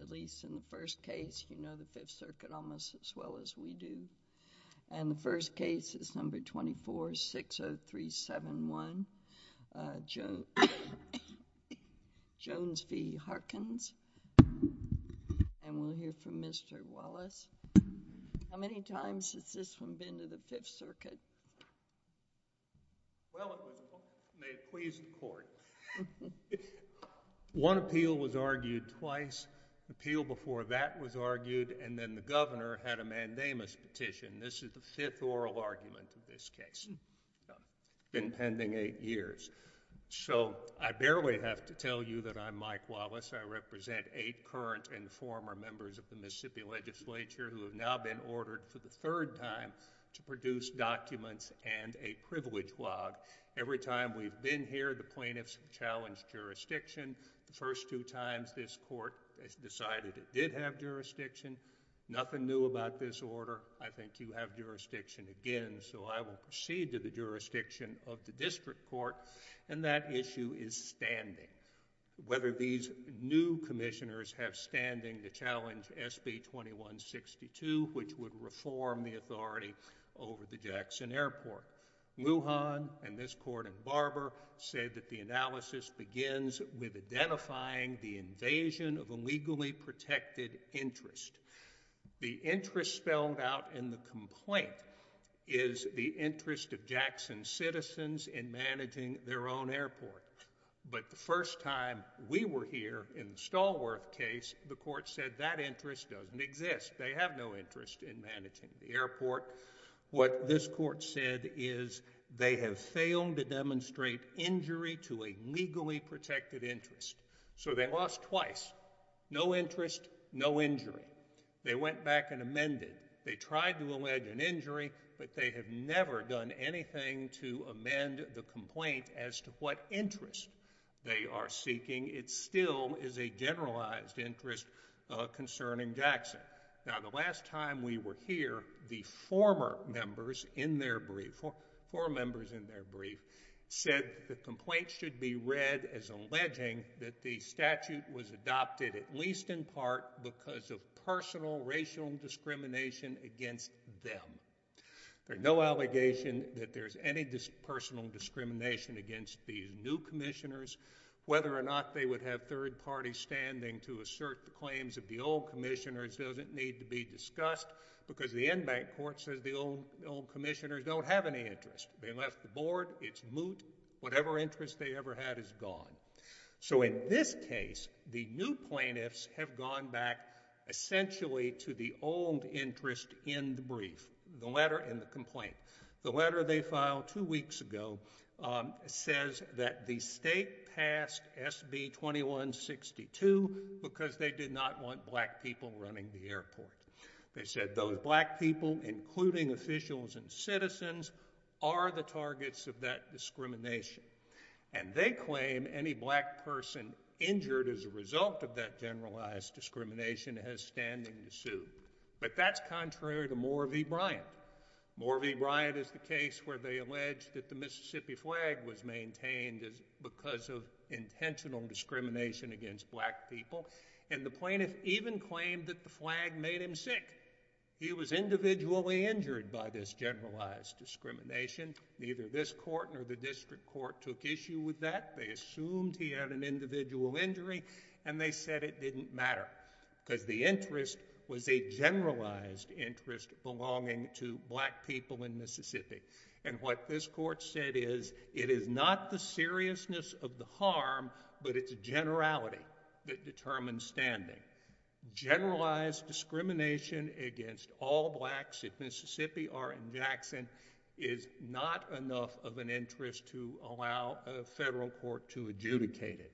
at least in the first case. You know the Fifth Circuit almost as well as we do. And the first case is number 24-60371, Jones v. Harkins. And we'll hear from Mr. Wallace. How many times has this one been to the Fifth Circuit? Well, it may have pleased the court. One appeal was argued twice. The appeal before that was argued and then the governor had a mandamus petition. This is the fifth oral argument of this case. It's been pending eight years. So I barely have to tell you that I'm Mike Wallace. I represent eight current and former members of the Mississippi Legislature who have now been ordered for the third time to produce documents and a privilege log. Every time we've been here, the plaintiffs have challenged jurisdiction. The first two times this court decided it did have jurisdiction. Nothing new about this order. I think you have jurisdiction again. So I will proceed to the jurisdiction of the district court. And that issue is standing. Whether these new commissioners have standing to challenge SB 2162, which would reform the authority over the Jackson Airport. Lujan and this court and Barber said that the analysis begins with identifying the invasion of a legally protected interest. The interest spelled out in the complaint is the interest of Jackson citizens in managing their own airport. But the first time we were here in the Stallworth case, the court said that interest doesn't exist. They have no interest in managing the airport. What this court said is they have failed to demonstrate injury to a legally protected interest. So they lost twice. No interest, no injury. They went back and amended. They tried to allege an injury, but they have never done anything to amend the complaint as to what interest they are seeking. It still is a generalized interest concerning Jackson. Now, the last time we were here, the former members in their brief, four members in their brief, said the complaint should be read as alleging that the statute was adopted at least in part because of personal racial discrimination against them. There's no allegation that there's any personal discrimination against these new commissioners. Whether or not they would have third parties standing to assert the claims of the old commissioners doesn't need to be discussed because the in-bank court says the old commissioners don't have any interest. They left the board. It's moot. Whatever interest they ever had is gone. So in this case, the new plaintiffs have gone back essentially to the old interest in the brief, the letter and the complaint. The letter they filed two weeks ago says that the state passed SB 2162 because they did not want black people running the airport. They said those black people, including officials and citizens, are the targets of that discrimination. And they claim any black person injured as a result of that generalized discrimination has standing to sue. But that's contrary to Moore v. Bryant. Moore v. Bryant is the case where they allege that the Mississippi flag was maintained because of intentional discrimination against black people. And the plaintiff even claimed that the flag made him sick. He was individually injured by this generalized discrimination. Neither this court nor the district court took issue with that. They assumed he had an individual injury and they said it didn't matter because the interest was a generalized interest belonging to black people in Mississippi. And what this court said is, it is not the seriousness of the harm, but it's generality that determines standing. Generalized discrimination against all blacks in Mississippi or in Jackson is not enough of an interest to allow a federal court to adjudicate it.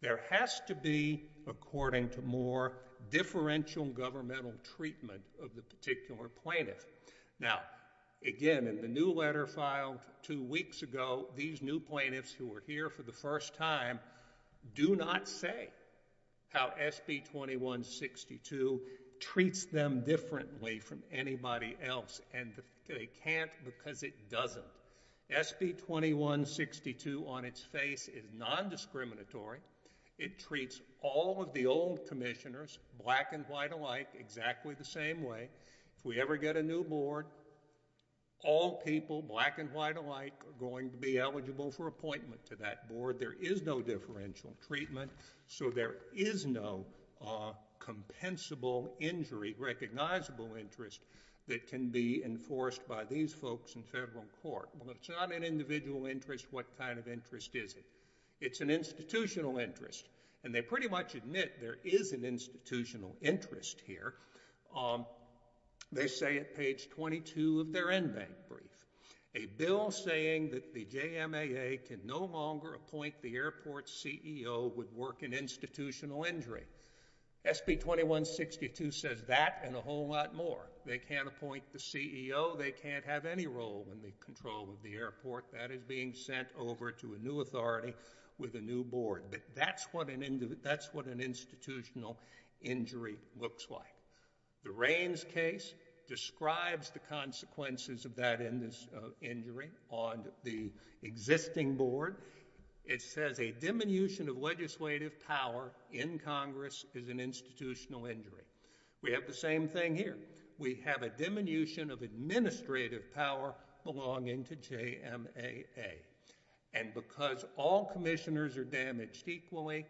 There has to be, according to Moore, differential governmental treatment of the particular plaintiff. Now, again, in the new letter filed two weeks ago, these new plaintiffs who were here for the first time do not say how SB 2162 treats them differently from anybody else. And they can't because it doesn't. SB 2162 on its face is non-discriminatory. It treats all of the old commissioners, black and white alike, exactly the same way. If we ever get a new board, all people, black and white alike, are going to be eligible for appointment to that board. There is no differential treatment, so there is no compensable injury, recognizable interest that can be enforced by these folks in federal court. Well, it's not an individual interest. What kind of interest is it? It's an institutional interest. And they pretty much admit there is an institutional interest here. They say at page 22 of their in-bank brief, a bill saying that the JMAA can no longer appoint the airport CEO would work in institutional injury. SB 2162 says that and a whole lot more. They can't appoint the CEO. They can't have any role in the control of the airport. That is being sent over to a new authority with a new board. But that's what an institutional injury looks like. The Raines case describes the consequences of that injury on the existing board. It says a diminution of legislative power in Congress is an institutional injury. We have the same thing here. We have a diminution of administrative power belonging to JMAA. And because all commissioners are damaged equally,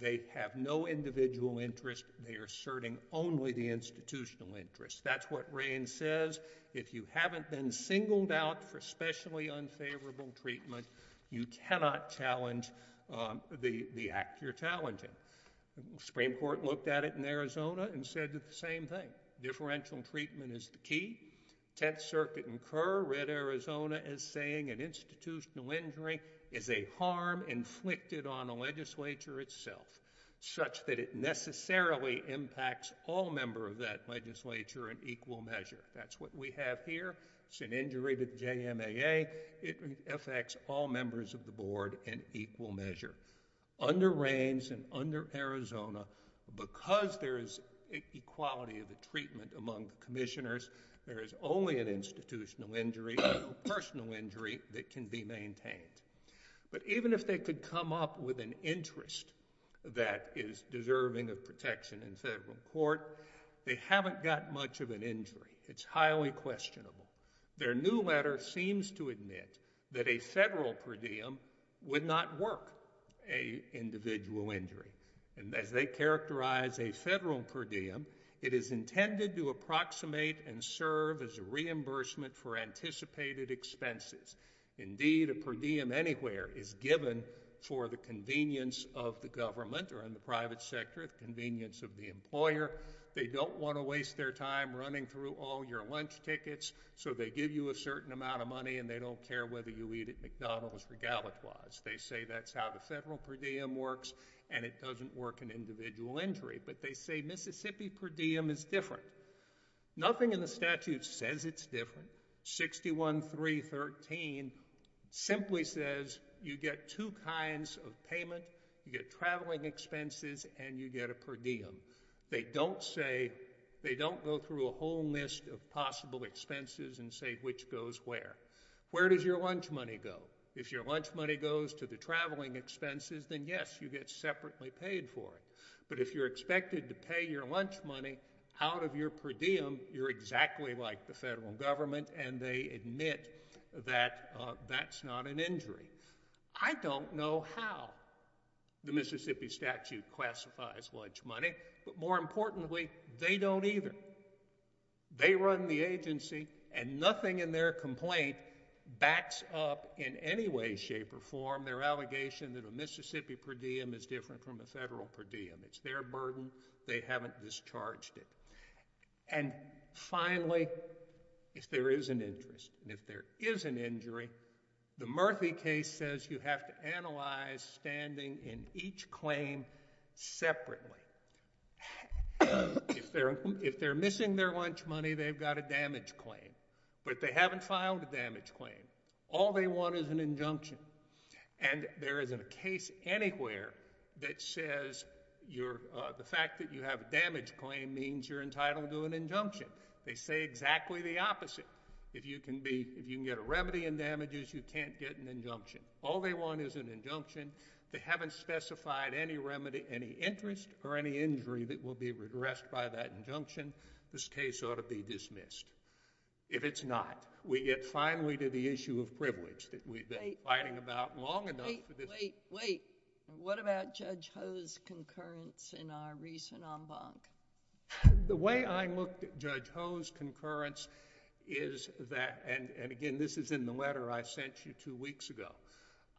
they have no individual interest. They are asserting only the institutional interest. That's what Raines says. If you haven't been singled out for specially unfavorable treatment, you cannot challenge the act you're challenging. The Supreme Court looked at it in the same way. It says that institutional injury is a harm inflicted on the legislature itself, such that it necessarily impacts all members of that legislature in equal measure. That's what we have here. It's an injury to the JMAA. It affects all members of the board in equal measure. Under Raines and under Arizona, because there is equality of treatment among commissioners, there is only an institutional injury or personal injury that can be maintained. But even if they could come up with an interest that is deserving of protection in federal court, they haven't got much of an injury. It's highly questionable. Their new letter seems to admit that a federal per diem would not work a individual injury. And as they characterize a federal per diem, it is intended to approximate and serve as a reimbursement for anticipated expenses. Indeed, a per diem anywhere is given for the convenience of the government or in the private sector, the convenience of the employer. They don't want to waste their time running through all your lunch tickets so they give you a certain amount of money and they don't care whether you eat at McDonald's regalitwas. They say that's how the federal per diem works and it doesn't work an individual injury. But they say Mississippi per diem is different. Nothing in the statute says it's different. 61-313 simply says you get two kinds of payment. You get traveling expenses and you get a per diem. They don't go through a whole list of possible expenses and say which goes where. Where does your lunch money go? If your lunch money goes to the traveling expenses, then yes, you get separately paid for it. But if you're expected to pay your lunch money out of your per diem, you're exactly like the federal government and they admit that that's not an injury. I don't know how the Mississippi statute classifies lunch money, but more importantly, they don't either. They run the agency and nothing in their complaint backs up in any way, shape, or form their allegation that a Mississippi per diem is different from a federal per diem. It's their burden. They haven't discharged it. And finally, if there is an interest and if there is an injury, the Murphy case says you have to analyze standing in each claim separately. If they're missing their lunch money, they've got a damage claim, but they haven't filed a damage claim. All they want is an injunction. And there isn't a case anywhere that says the fact that you have a damage claim means you're entitled to an injunction. They say exactly the opposite. If you can get a remedy in damages, you can't get an injunction. All they want is an injunction. They haven't specified any interest or any injury that will be addressed by that injunction. This case ought to be dismissed. If it's not, we get finally to issue of privilege that we've been fighting about long enough. Wait, wait, wait. What about Judge Ho's concurrence in our recent en banc? The way I looked at Judge Ho's concurrence is that, and again, this is in the letter I sent you two weeks ago,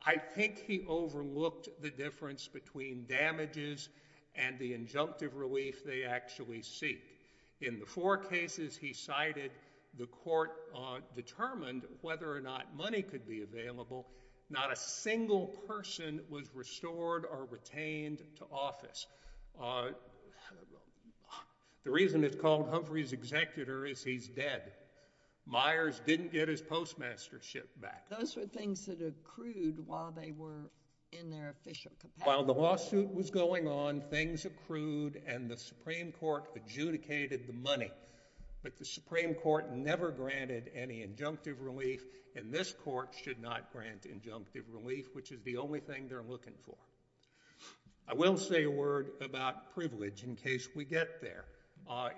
I think he overlooked the difference between damages and the injunctive relief they actually seek. In the four cases he cited, the court determined whether or not money could be available. Not a single person was restored or retained to office. The reason it's called Humphrey's executor is he's dead. Myers didn't get his postmastership back. Those were things that accrued while they were in their official capacity. While the lawsuit was going on, things accrued, and the Supreme Court adjudicated the money. But the Supreme Court never granted any injunctive relief, and this court should not grant injunctive relief, which is the only thing they're looking for. I will say a word about privilege in case we get there.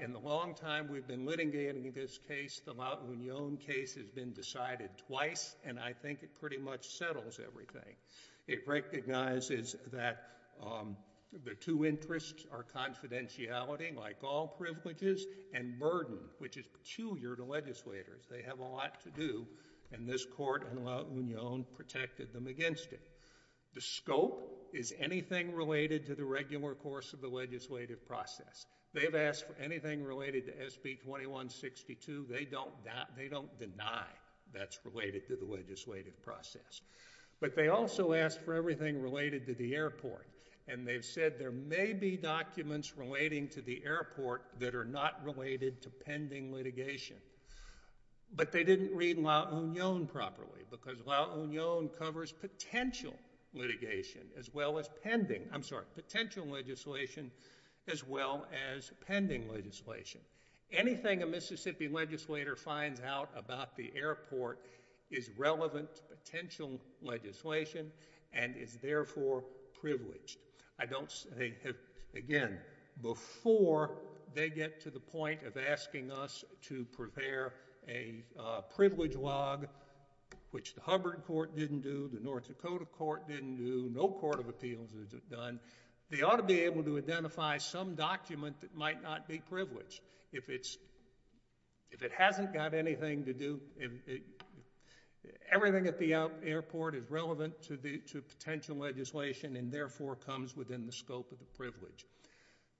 In the long time we've been litigating this case, the Laotian case has been decided twice, and I think it pretty much settles everything. It recognizes that the two interests are confidentiality, like all privileges, and burden, which is peculiar to legislators. They have a lot to do, and this court in La Union protected them against it. The scope is anything related to the regular course of the legislative process. They've asked for anything related to SB 2162. They don't deny that's related to the legislative process. But they also asked for everything related to the airport, and they've said there may be documents relating to the airport that are not related to pending litigation. But they didn't read La Union properly, because La Union covers potential litigation as well as pending, I'm sorry, potential legislation as well as pending legislation. Anything a Mississippi legislator finds out about the airport is relevant to potential legislation and is therefore privileged. I don't say, again, before they get to the point of asking us to prepare a privilege log, which the Hubbard court didn't do, the North Dakota court didn't do, no court of appeals has done, they ought to be able to identify some document that might not be If it hasn't got anything to do, everything at the airport is relevant to potential legislation and therefore comes within the scope of the privilege.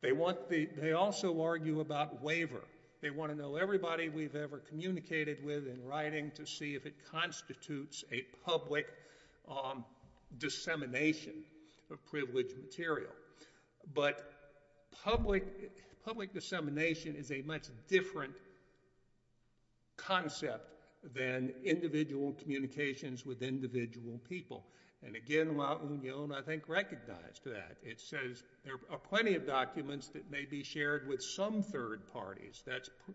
They also argue about waiver. They want to know everybody we've ever communicated with in writing to see if it constitutes a public dissemination of privileged material. But public dissemination is a much different concept than individual communications with individual people. And again, La Union, I think, recognized that. It says there are plenty of documents that may be shared with some third parties,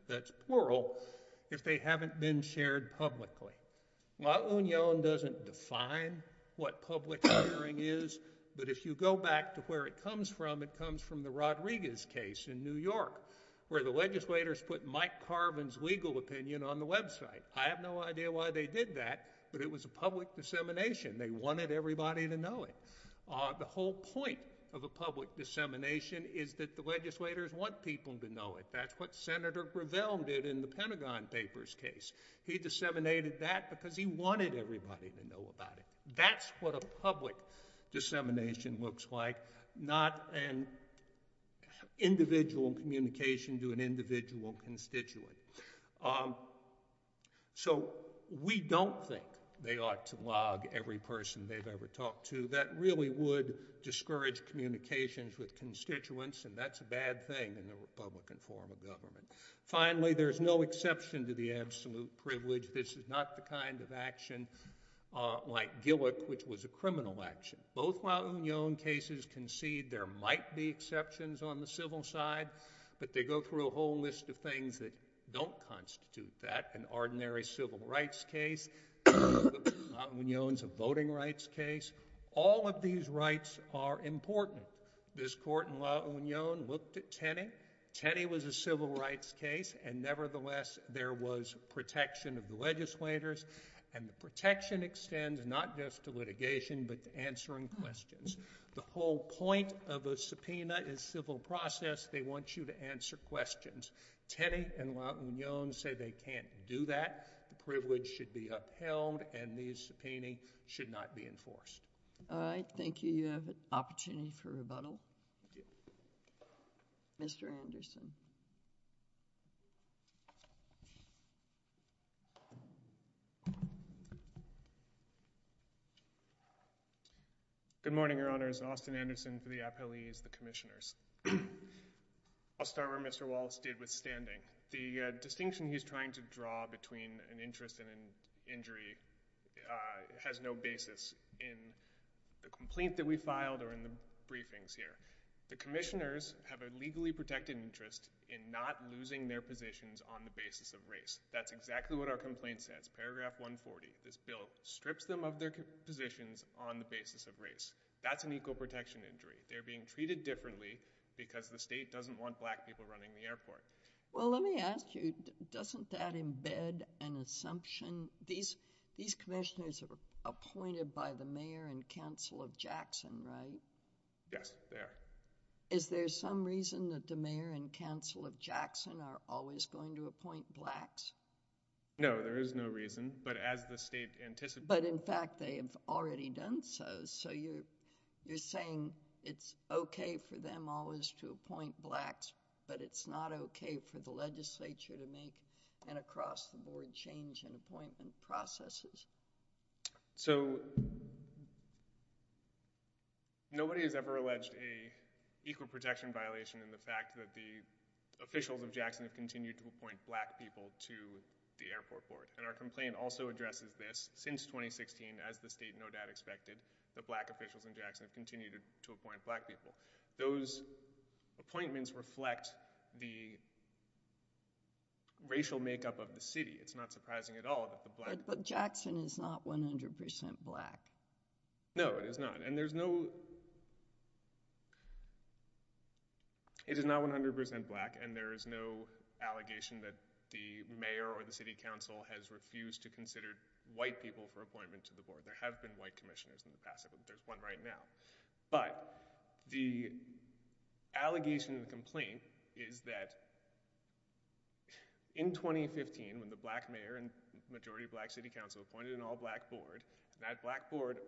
that's plural, if they haven't been shared publicly. La Union doesn't define what public sharing is, but if you go back to where it comes from, it comes from the Rodriguez case in New York, where the legislators put Mike Carvin's legal opinion on the website. I have no idea why they did that, but it was a public dissemination. They wanted everybody to know it. The whole point of a public dissemination is that the legislators want people to know it. That's what Senator Gravel did in the Pentagon Papers case. He disseminated that because he wanted everybody to know about it. That's what a public dissemination looks like, not an individual communication to an individual constituent. So we don't think they ought to log every person they've ever talked to. That really would discourage communications with constituents, and that's a bad thing in the Republican form of government. Finally, there's no exception to the absolute privilege. This is not the kind of action like Gillick, which was a criminal action. Both La Union cases concede there might be exceptions on the civil side, but they go through a whole list of things that don't constitute that. An ordinary civil rights case, La Union's a voting rights case. All of these rights are important. This court in La Union, nevertheless, there was protection of the legislators, and the protection extends not just to litigation, but to answering questions. The whole point of a subpoena is civil process. They want you to answer questions. Tenney and La Union say they can't do that. The privilege should be upheld, and these subpoenas should not be enforced. All right. Thank you. You have an opportunity for rebuttal. Mr. Anderson. Good morning, Your Honors. Austin Anderson for the appellees, the commissioners. I'll start where Mr. Wallace did with standing. The distinction he's trying to draw between an interest and an injury has no basis in the complaint that we filed or in the briefings here. The commissioners have a legally protected interest in not losing their positions on the basis of race. That's exactly what our complaint says. Paragraph 140. This bill strips them of their positions on the basis of race. That's an equal protection injury. They're being treated differently because the state doesn't want black people running the airport. Well, let me ask you, doesn't that embed an assumption? These commissioners are appointed by the mayor and council of Jackson, right? Yes, they are. Is there some reason that the mayor and council of Jackson are always going to appoint blacks? No, there is no reason, but as the state anticipated— But in fact, they have already done so. So you're saying it's okay for them always to appoint blacks, but it's not okay for the legislature to make an across-the-board change in appointment processes? So, nobody has ever alleged a equal protection violation in the fact that the officials of Jackson have continued to appoint black people to the airport board, and our complaint also addresses this. Since 2016, as the state no doubt expected, the black officials in Jackson have continued to appoint black people. Those appointments reflect the racial makeup of the city. It's not surprising at all that the black— But Jackson is not 100 percent black. No, it is not, and there's no— It is not 100 percent black, and there is no allegation that the mayor or the city council has refused to consider white people for appointment to the board. There have been commissioners in the past. There's one right now, but the allegation of the complaint is that in 2015, when the black mayor and majority black city council appointed an all-black board, that black board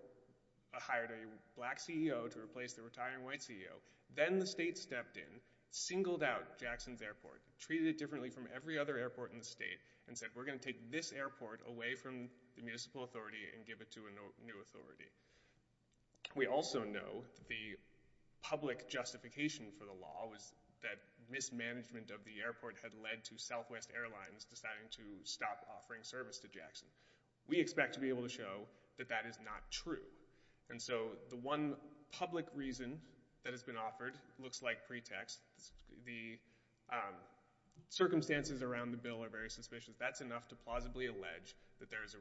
hired a black CEO to replace the retiring white CEO. Then the state stepped in, singled out Jackson's airport, treated it differently from every other airport in the state, and said, we're going to take this airport away from the municipal authority and give it to a new authority. We also know that the public justification for the law was that mismanagement of the airport had led to Southwest Airlines deciding to stop offering service to Jackson. We expect to be able to show that that is not true, and so the one public reason that has been offered looks like pretext. The circumstances around the bill are very suspicious. That's why there's a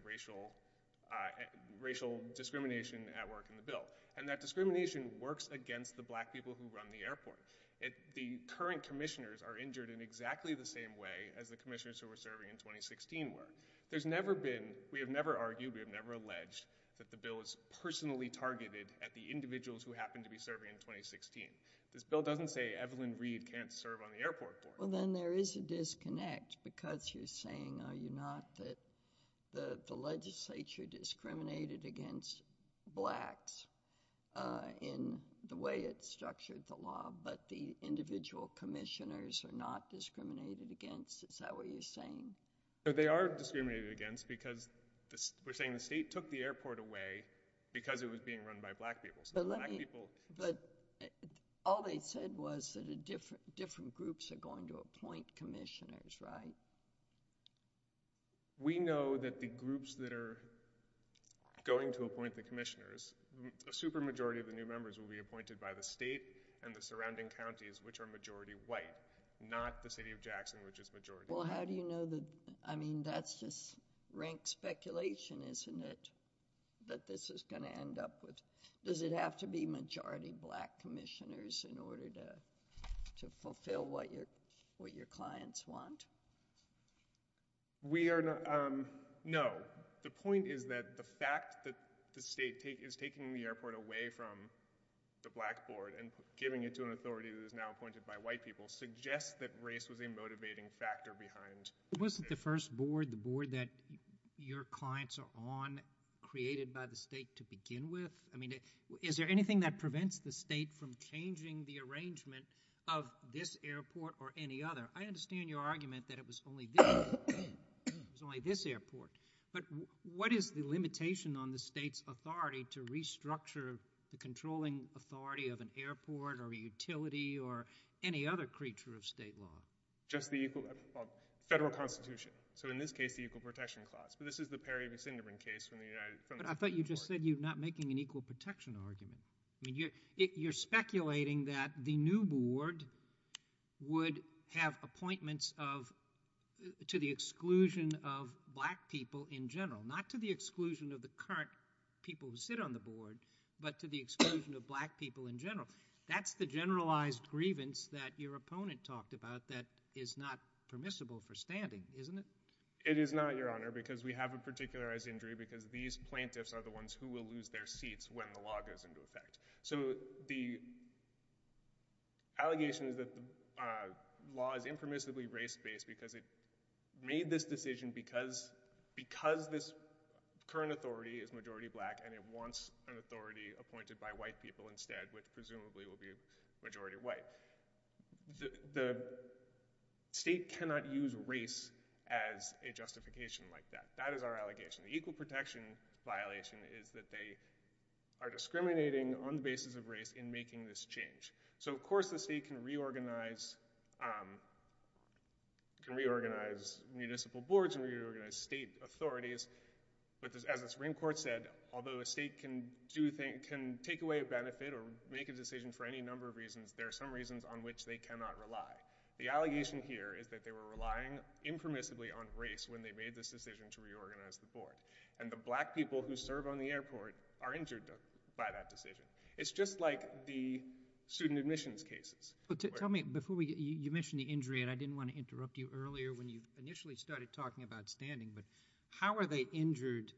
racial discrimination at work in the bill, and that discrimination works against the black people who run the airport. The current commissioners are injured in exactly the same way as the commissioners who were serving in 2016 were. There's never been, we have never argued, we have never alleged that the bill is personally targeted at the individuals who happen to be serving in 2016. This bill doesn't say Evelyn Reed can't serve on the airport board. Well, then there is a disconnect because you're saying, are you not, that the legislature discriminated against blacks in the way it structured the law, but the individual commissioners are not discriminated against. Is that what you're saying? They are discriminated against because we're saying the state took the airport away because it was being run by black people. But all they said was that different groups are going to appoint commissioners, right? We know that the groups that are going to appoint the commissioners, a super majority of the new members will be appointed by the state and the surrounding counties, which are majority white, not the city of Jackson, which is majority white. Well, how do you know that, I mean, that's just rank speculation, isn't it, that this is going to end up with, does it have to be majority black commissioners in order to fulfill what your clients want? We are not, no. The point is that the fact that the state is taking the airport away from the black board and giving it to an authority that is now appointed by white people suggests that race was a motivating factor behind it. Wasn't the first board, the board that your clients are on, created by the state to begin with? I mean, is there anything that prevents the state from changing the arrangement of this airport or any other? I understand your argument that it was only this, it was only this airport, but what is the limitation on the state's authority to restructure the controlling authority of an airport or a utility or any other creature of state law? Just the equal, federal constitution. So in this case, the equal protection clause, but this is the Perry v. Sinderman case from the United States. But I thought you just said you're not making an equal protection argument. I mean, you're speculating that the new board would have appointments of, to the exclusion of black people in general, not to the exclusion of the current people who sit on the board, but to the exclusion of black people in general. That's the generalized grievance that your opponent talked about that is not permissible for standing, isn't it? It is not, your honor, because we have a particularized injury because these plaintiffs are the ones who will lose their seats when the law goes into effect. So the allegation is that the law is impermissibly race-based because it made this decision because this current authority is majority black and it wants an authority appointed by white people which presumably will be majority white. The state cannot use race as a justification like that. That is our allegation. The equal protection violation is that they are discriminating on the basis of race in making this change. So of course the state can reorganize municipal boards and reorganize state authorities, but as the Supreme Court said, although a state can take away a benefit or make a decision for any number of reasons, there are some reasons on which they cannot rely. The allegation here is that they were relying impermissibly on race when they made this decision to reorganize the board. And the black people who serve on the airport are injured by that decision. It's just like the student admissions cases. Tell me, before we, you mentioned the injury and I didn't want to interrupt you earlier when you initially started talking about standing, but how are they injured?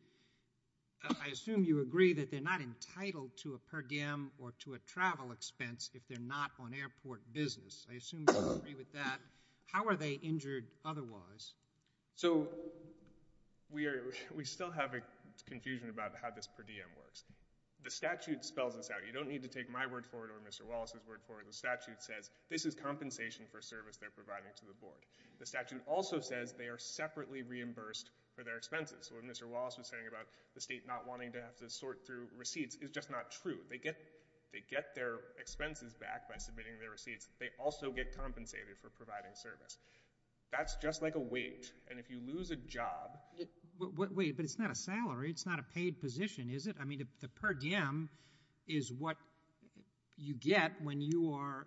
I assume you agree that they're not entitled to a per diem or to a travel expense if they're not on airport business. I assume you agree with that. How are they injured otherwise? So we are, we still have a confusion about how this per diem works. The statute spells this out. You don't need to take my word for it or Mr. Wallace's word for it. The statute says this is compensation for service they're providing to the board. The statute also says they are separately reimbursed for their expenses. So when Mr. Wallace was saying about the state not wanting to have to sort through receipts, it's just not true. They get, they get their expenses back by submitting their receipts. They also get compensated for providing service. That's just like a wait. And if you lose a job... Wait, but it's not a salary. It's not a paid position, is it? I mean, the per diem is what you get when you are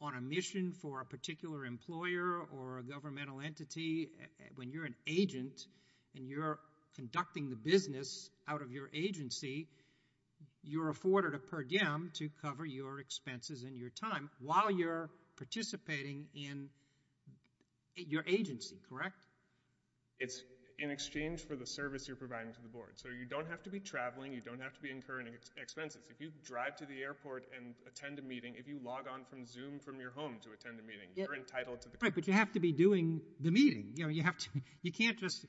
on a mission for a particular employer or a governmental entity. When you're an agent and you're conducting the business out of your agency, you're afforded a per diem to cover your expenses and your time while you're participating in your agency, correct? It's in exchange for the service you're providing to the board. So you don't have to be traveling. You don't have to be incurring expenses. If you drive to the airport and attend a meeting, if you log on from Zoom from your home to attend a meeting, you're entitled to that. But you have to be doing the meeting. You know, you have to, you can't just,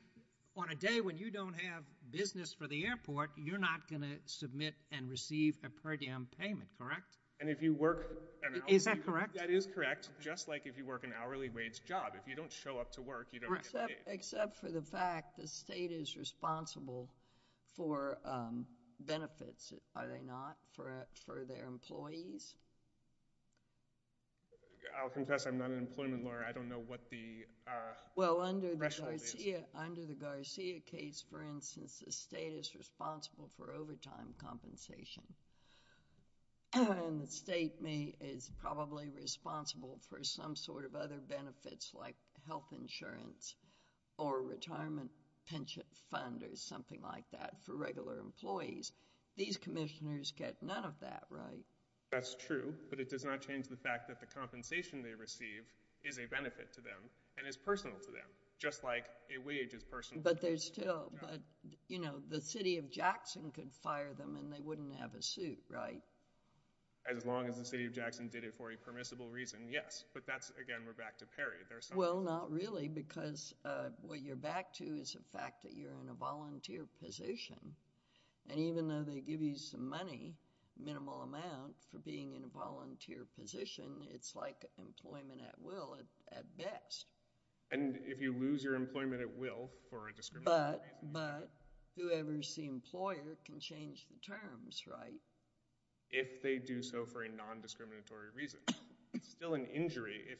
on a day when you don't have business for the airport, you're not going to submit and receive a per diem payment, correct? And if you work... Is that correct? That is correct. Just like if you work an hourly wage job. If you don't show up to work, you don't get paid. Except for the fact the state is responsible for benefits, are they not, for their employees? I'll confess I'm not an employment lawyer. I don't know what the threshold is. Well, under the Garcia case, for instance, the state is responsible for overtime compensation. And the state is probably responsible for some sort of other benefits like health insurance or retirement pension fund or something like that for regular employees. These commissioners get none of that, right? That's true, but it does not change the fact that the compensation they receive is a benefit to them and is personal to them, just like a wage is personal. But there's still, but, you know, the city of Jackson could fire them and they wouldn't have a suit, right? As long as the city of Jackson did it for a permissible reason, yes. But that's, again, we're back to Perry. Well, not really, because what you're back to is the fact that you're in a volunteer position. And even though they give you some money, minimal amount, for being in a volunteer position, it's like employment at will at best. And if you lose your employment at will for a discriminatory reason. But whoever's the employer can change the terms, right? If they do so for a non-discriminatory reason. It's still an injury if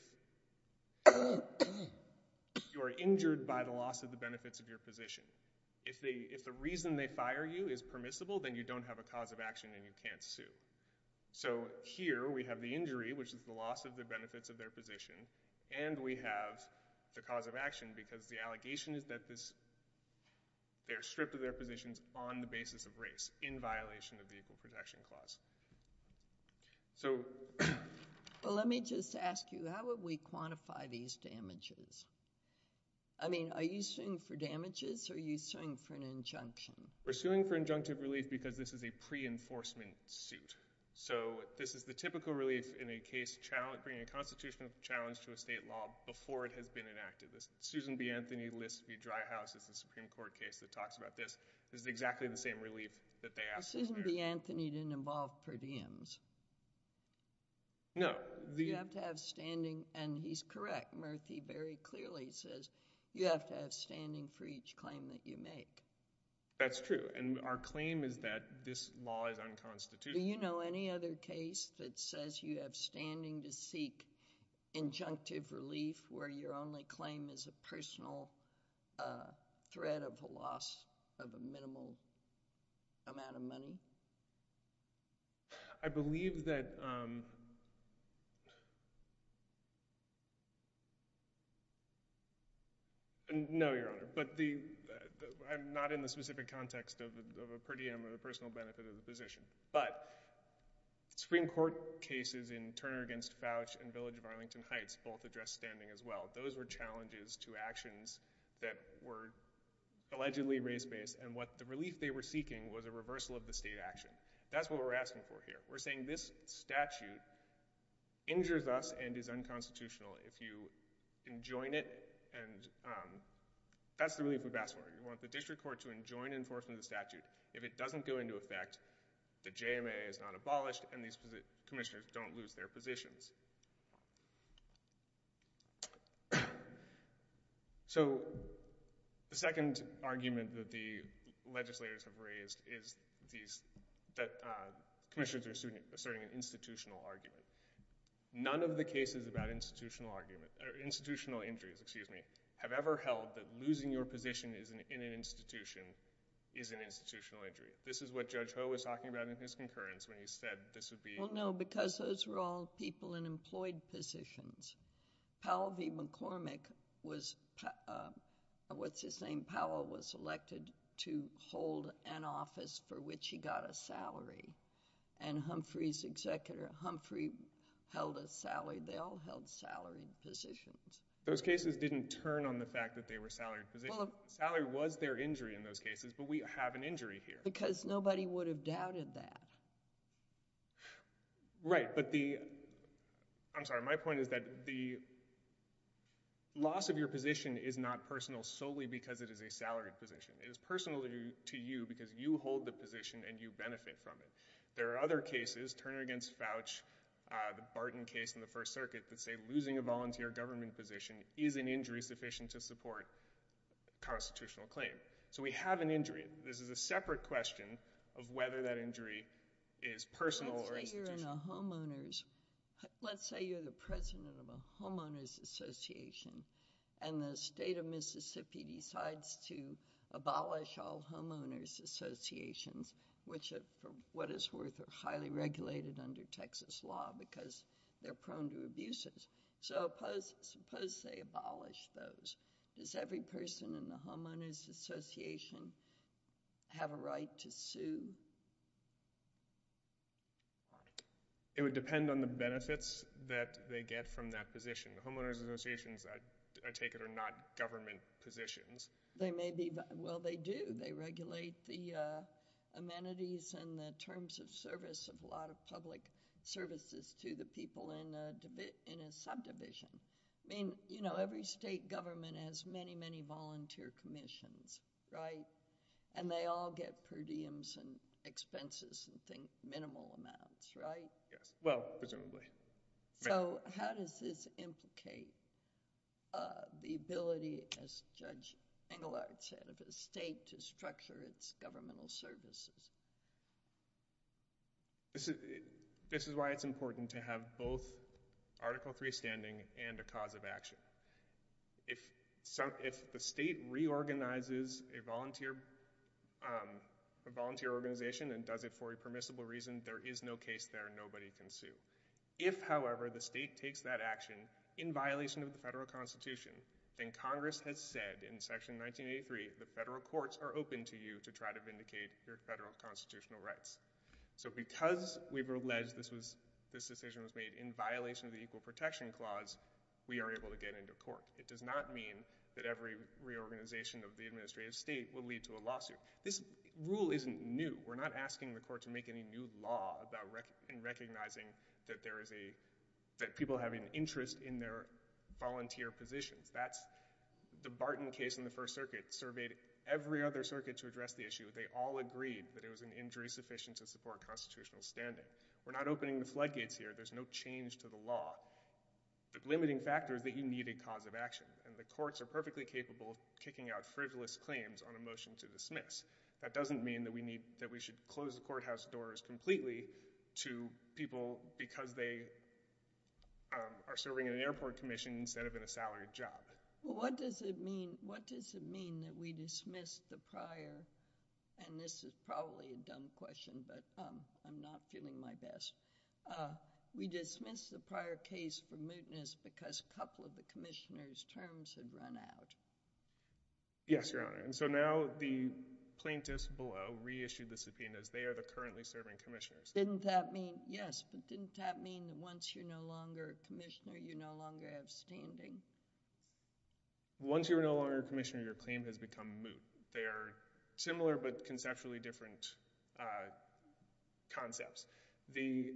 you are injured by the loss of the benefits of your position. If the reason they fire you is permissible, then you don't have a cause of action and you can't sue. So here we have the injury, which is the loss of the benefits of their position. And we have the cause of action because the allegation is that this, they're stripped of their positions on the basis of race in violation of the Equal Protection Clause. Well, let me just ask you, how would we quantify these damages? I mean, are you suing for damages or are you suing for an injunction? We're suing for injunctive relief because this is a pre-enforcement suit. So this is the typical relief in a case bringing a constitutional challenge to a state law before it has been enacted. Susan B. Anthony lists the Dry House as the Supreme Court case that talks about this. This is exactly the same relief that they ask for. Susan B. Anthony didn't involve per diems. No. You have to have standing, and he's correct. Murthy very clearly says you have to have standing for each claim that you make. That's true. And our claim is that this law is unconstitutional. Do you know any other case that says you have standing to seek injunctive relief where your claim is a personal threat of a loss of a minimal amount of money? I believe that—no, Your Honor, but I'm not in the specific context of a per diem or the personal benefit of the position. But Supreme Court cases in Turner v. Fouch and Village of Arlington Heights both address standing as well. Those were challenges to actions that were allegedly race-based, and what the relief they were seeking was a reversal of the state action. That's what we're asking for here. We're saying this statute injures us and is unconstitutional. If you enjoin it—and that's the relief we've asked for. You want the district court to enjoin enforcement of the statute. If it doesn't go into effect, the JMA is not abolished, and these commissioners don't lose their positions. So the second argument that the legislators have raised is that commissioners are asserting an institutional argument. None of the cases about institutional injuries have ever held that losing your position in an institution is an institutional injury. This is what Judge Ho was talking about in his concurrence when he said this would be— No, because those were all people in employed positions. Powell v. McCormick was—what's his name?—Powell was elected to hold an office for which he got a salary, and Humphrey's executor, Humphrey, held a salary. They all held salaried positions. Those cases didn't turn on the fact that they were salaried positions. Salary was their injury in those cases, but we have an injury here. Because nobody would have doubted that. Right, but the—I'm sorry, my point is that the loss of your position is not personal solely because it is a salaried position. It is personal to you because you hold the position and you benefit from it. There are other cases—Turner v. Fouch, the Barton case in the First Circuit—that say losing a volunteer government position is an injury sufficient to support a constitutional claim. So we have an injury. This is a separate question of whether that injury is personal or— Let's say you're in a homeowners—let's say you're the president of a homeowners association, and the state of Mississippi decides to abolish all homeowners associations, which, for what it's worth, are highly regulated under Texas law because they're prone to abuses. So suppose they abolish those. Does every person in the homeowners association have a right to sue? It would depend on the benefits that they get from that position. The homeowners associations, I take it, are not government positions. They may be—well, they do. They regulate the amenities and the terms of service of a lot of public services to the people in a subdivision. I mean, you know, every state government has many, volunteer commissions, right? And they all get per diems and expenses in, think, minimal amounts, right? Yes. Well, presumably. So how does this implicate the ability, as Judge Engelhardt said, of a state to structure its governmental services? This is why it's important to have both Article III standing and a cause of action. If the state reorganizes a volunteer organization and does it for a permissible reason, there is no case there. Nobody can sue. If, however, the state takes that action in violation of the federal constitution, then Congress has said in Section 1983, the federal courts are open to you to try to vindicate your federal constitutional rights. So because we've alleged this decision was made in violation of the Equal Protection Clause, we are able to get into court. It does not mean that every reorganization of the administrative state will lead to a lawsuit. This rule isn't new. We're not asking the court to make any new law about—and recognizing that there is a—that people have an interest in their volunteer positions. That's—the Barton case in the First Circuit surveyed every other circuit to address the issue. They all agreed that it was an injury sufficient to support constitutional standing. We're not opening the floodgates here. There's no change to the law. The limiting factor is that you need a cause of action, and the courts are perfectly capable of kicking out frivolous claims on a motion to dismiss. That doesn't mean that we need—that we should close the courthouse doors completely to people because they are serving in an airport commission instead of in a salaried job. Well, what does it mean—what does it mean that we dismiss the prior—and this is probably a dumb question, but I'm not feeling my best. We dismiss the prior case for mootness because a couple of the commissioner's terms had run out. Yes, Your Honor, and so now the plaintiffs below reissued the subpoenas. They are the currently serving commissioners. Didn't that mean—yes, but didn't that mean that once you're no longer a commissioner, you no longer have standing? Once you're no longer a commissioner, your claim has become moot. They are similar but conceptually different concepts. The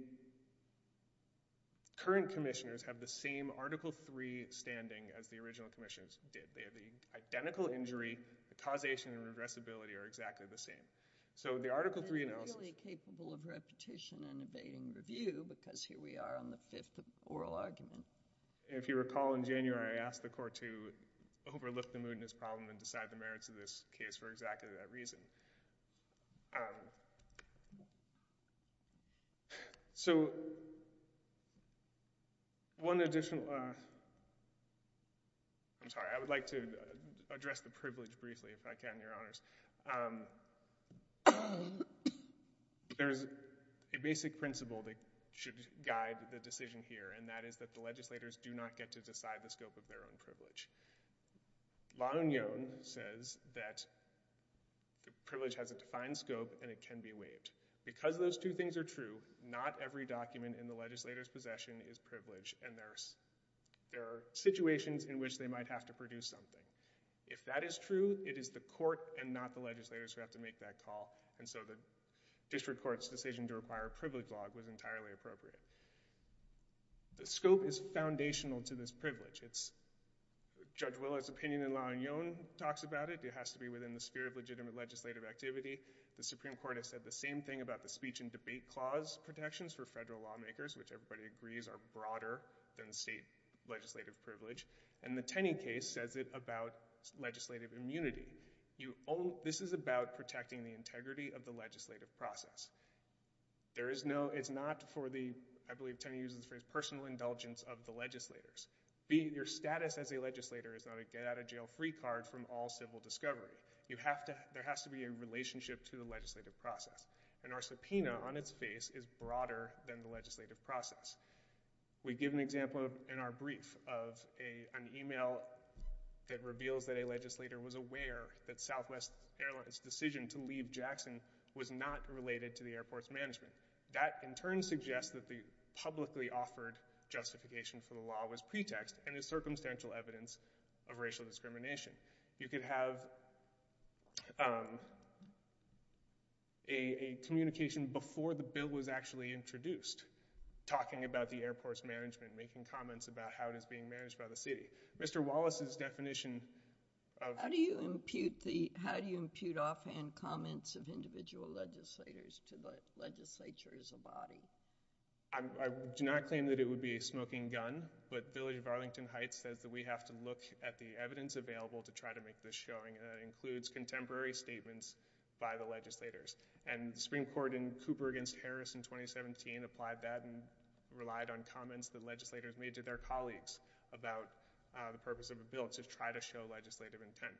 current commissioners have the same Article III standing as the original commissioners did. They have the identical injury. The causation and regressibility are exactly the same. So the Article III analysis— And really capable of repetition and evading review because here we are on the fifth oral argument. If you recall in January, I asked the court to overlook the mootness problem and decide the merits of this case for exactly that reason. So one additional—I'm sorry, I would like to address the privilege briefly if I can, Your Honors. There's a basic principle that should guide the decision here, and that is that the legislators do not get to decide the scope of their own privilege. La Union says that the privilege has a defined scope and it can be waived. Because those two things are true, not every document in the legislator's possession is privilege, and there are situations in which they might have to produce something. If that is true, it is the court and not the legislators who have to make that call, and so the district court's decision to require a privilege log was entirely appropriate. The scope is foundational to this privilege. It's—Judge Willard's opinion in La Union talks about it. It has to be within the sphere of legitimate legislative activity. The Supreme Court has said the same thing about the Speech and Debate Clause protections for federal lawmakers, which everybody agrees are broader than the state legislative privilege, and the Tenney case says it about legislative immunity. This is about protecting the integrity of the legislative process. There is no—it's not for the—I believe Tenney uses the phrase personal indulgence of the legislators. Your status as a legislator is not a get-out-of-jail-free card from all civil discovery. You have to—there has to be a relationship to the legislative process, and our subpoena on its face is broader than the legislative process. We give an example in our brief of an email that reveals that a legislator was aware that Southwest Airlines' decision to Jackson was not related to the airport's management. That in turn suggests that the publicly offered justification for the law was pretext and is circumstantial evidence of racial discrimination. You could have a communication before the bill was actually introduced talking about the airport's management, making comments about how it is being managed by the city. Mr. Wallace's definition of— How do you impute the—how do you impute offhand comments of individual legislators to the legislature as a body? I do not claim that it would be a smoking gun, but Village of Arlington Heights says that we have to look at the evidence available to try to make this showing, and that includes contemporary statements by the legislators. And the Supreme Court in Cooper v. Harris in 2017 applied that and relied on comments that legislators made to their colleagues about the purpose of a bill to try to show legislative intent.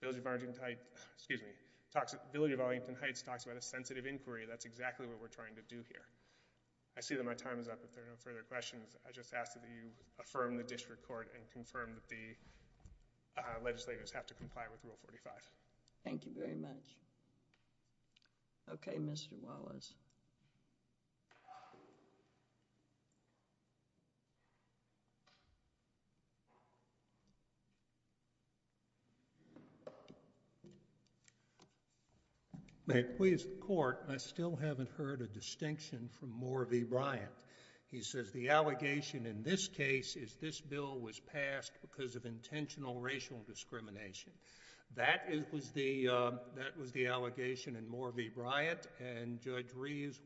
Village of Arlington Heights—excuse me—Village of Arlington Heights talks about a sensitive inquiry. That's exactly what we're trying to do here. I see that my time is up. If there are no further questions, I just ask that you affirm the district court and confirm that the legislators have to comply with Rule 45. Thank you very much. Okay, Mr. Wallace. May it please the court, I still haven't heard a distinction from Moore v. Bryant. He says the allegation in this case is this bill was passed because of intentional racial discrimination. That was the allegation in Moore v. Bryant, and Judge Reeves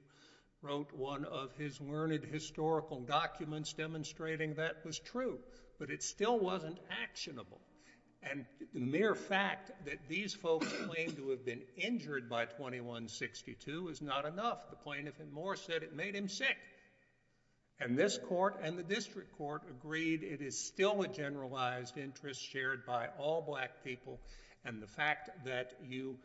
wrote one of his learned historical documents demonstrating that was true, but it still wasn't actionable. And the mere fact that these folks claimed to have been injured by 2162 is not enough. The plaintiff in Moore said it made him sick. And this court and the district court agreed it is still a generalized interest shared by all black people, and the fact that you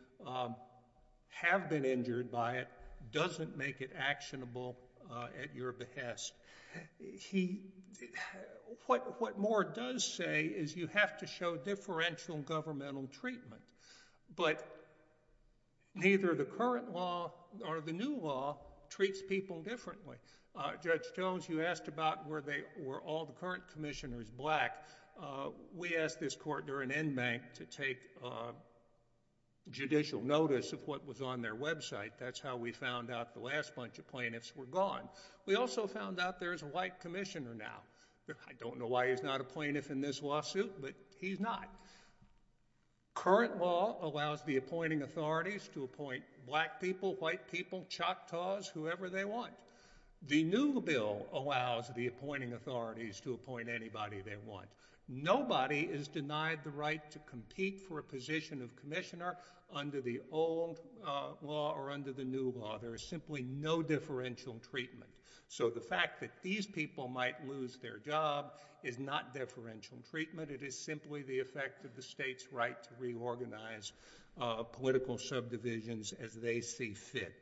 have been injured by it doesn't make it actionable at your behest. What Moore does say is you have to show differential governmental treatment, but neither the current law or the new law treats people differently. Judge Jones, you asked about were all the current commissioners black. We asked this court during bank to take judicial notice of what was on their website. That's how we found out the last bunch of plaintiffs were gone. We also found out there's a white commissioner now. I don't know why he's not a plaintiff in this lawsuit, but he's not. Current law allows the appointing authorities to appoint black people, white people, Choctaws, whoever they want. The new bill allows the appointing to compete for a position of commissioner under the old law or under the new law. There is simply no differential treatment. So the fact that these people might lose their job is not differential treatment. It is simply the effect of the state's right to reorganize political subdivisions as they see fit.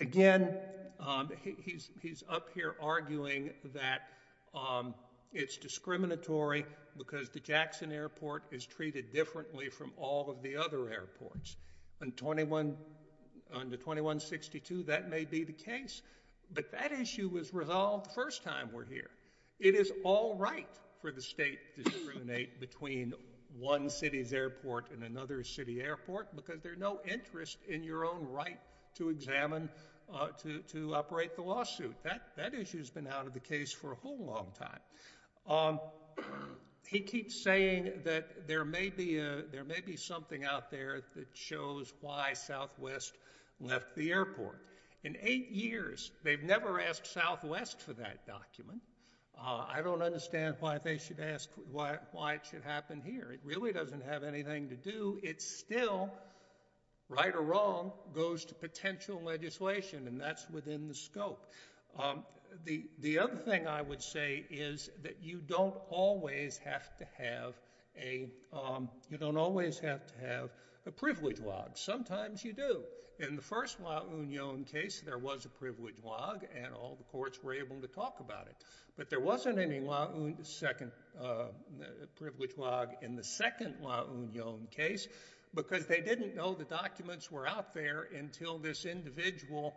Again, he's up here arguing that it's discriminatory because the Jackson Airport is treated differently from all of the other airports. Under 2162, that may be the case, but that issue was resolved the first time we're here. It is all right for the state to discriminate between one city's airport and another city airport because there's no interest in your own right to examine, to operate the lawsuit. That issue has been out of the case for a whole long time. He keeps saying that there may be something out there that shows why Southwest left the airport. In eight years, they've never asked Southwest for that document. I don't understand why they should ask why it should happen here. It really doesn't have anything to do. It still, right or wrong, goes to potential legislation, and that's within the scope. The other thing I would say is that you don't always have to have a privilege log. Sometimes you do. In the first La Union case, there was a privilege log, and all the courts were able to talk about it, but there wasn't any privilege log in the second La Union case because they didn't know the documents were out there until this individual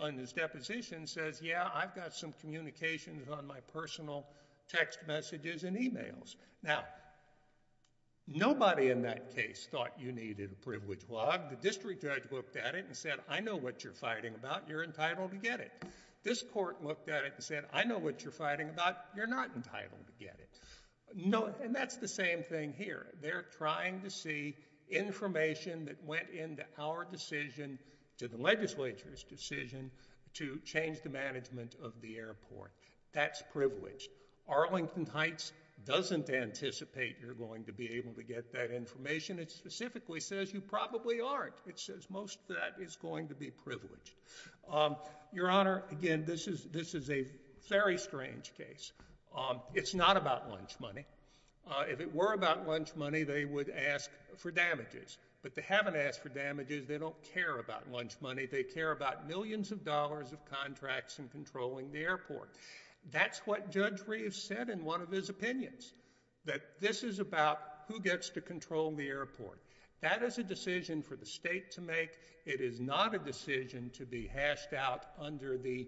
on his deposition says, yeah, I've got some communications on my personal text messages and emails. Now, nobody in that case thought you needed a privilege log. The district judge looked at it and said, I know what you're fighting about. You're entitled to get it. This court looked at it and said, I know what you're fighting about. You're not entitled to get it. And that's the same thing here. They're trying to see information that went into our decision, to the legislature's decision, to change the management of the airport. That's privilege. Arlington Heights doesn't anticipate you're going to be able to get that information. It specifically says you probably aren't. It says most of that is going to be privileged. Your Honor, again, this is a very strange case. It's not about lunch money. If it were about lunch money, they would ask for damages, but they haven't asked for damages. They don't care about lunch money. They care about millions of dollars of contracts and controlling the airport. That's what Judge Reeves said in one of his opinions, that this is about who gets to control the airport. That is a decision for the state to make. It is not a decision to be hashed out under the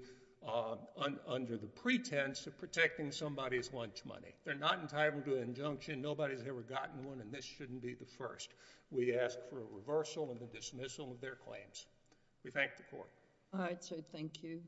pretense of protecting somebody's lunch money. They're not entitled to an injunction. Nobody's ever gotten one, and this shouldn't be the first. We ask for a reversal and the dismissal of their claims. We thank the court. All right, sir. Thank you.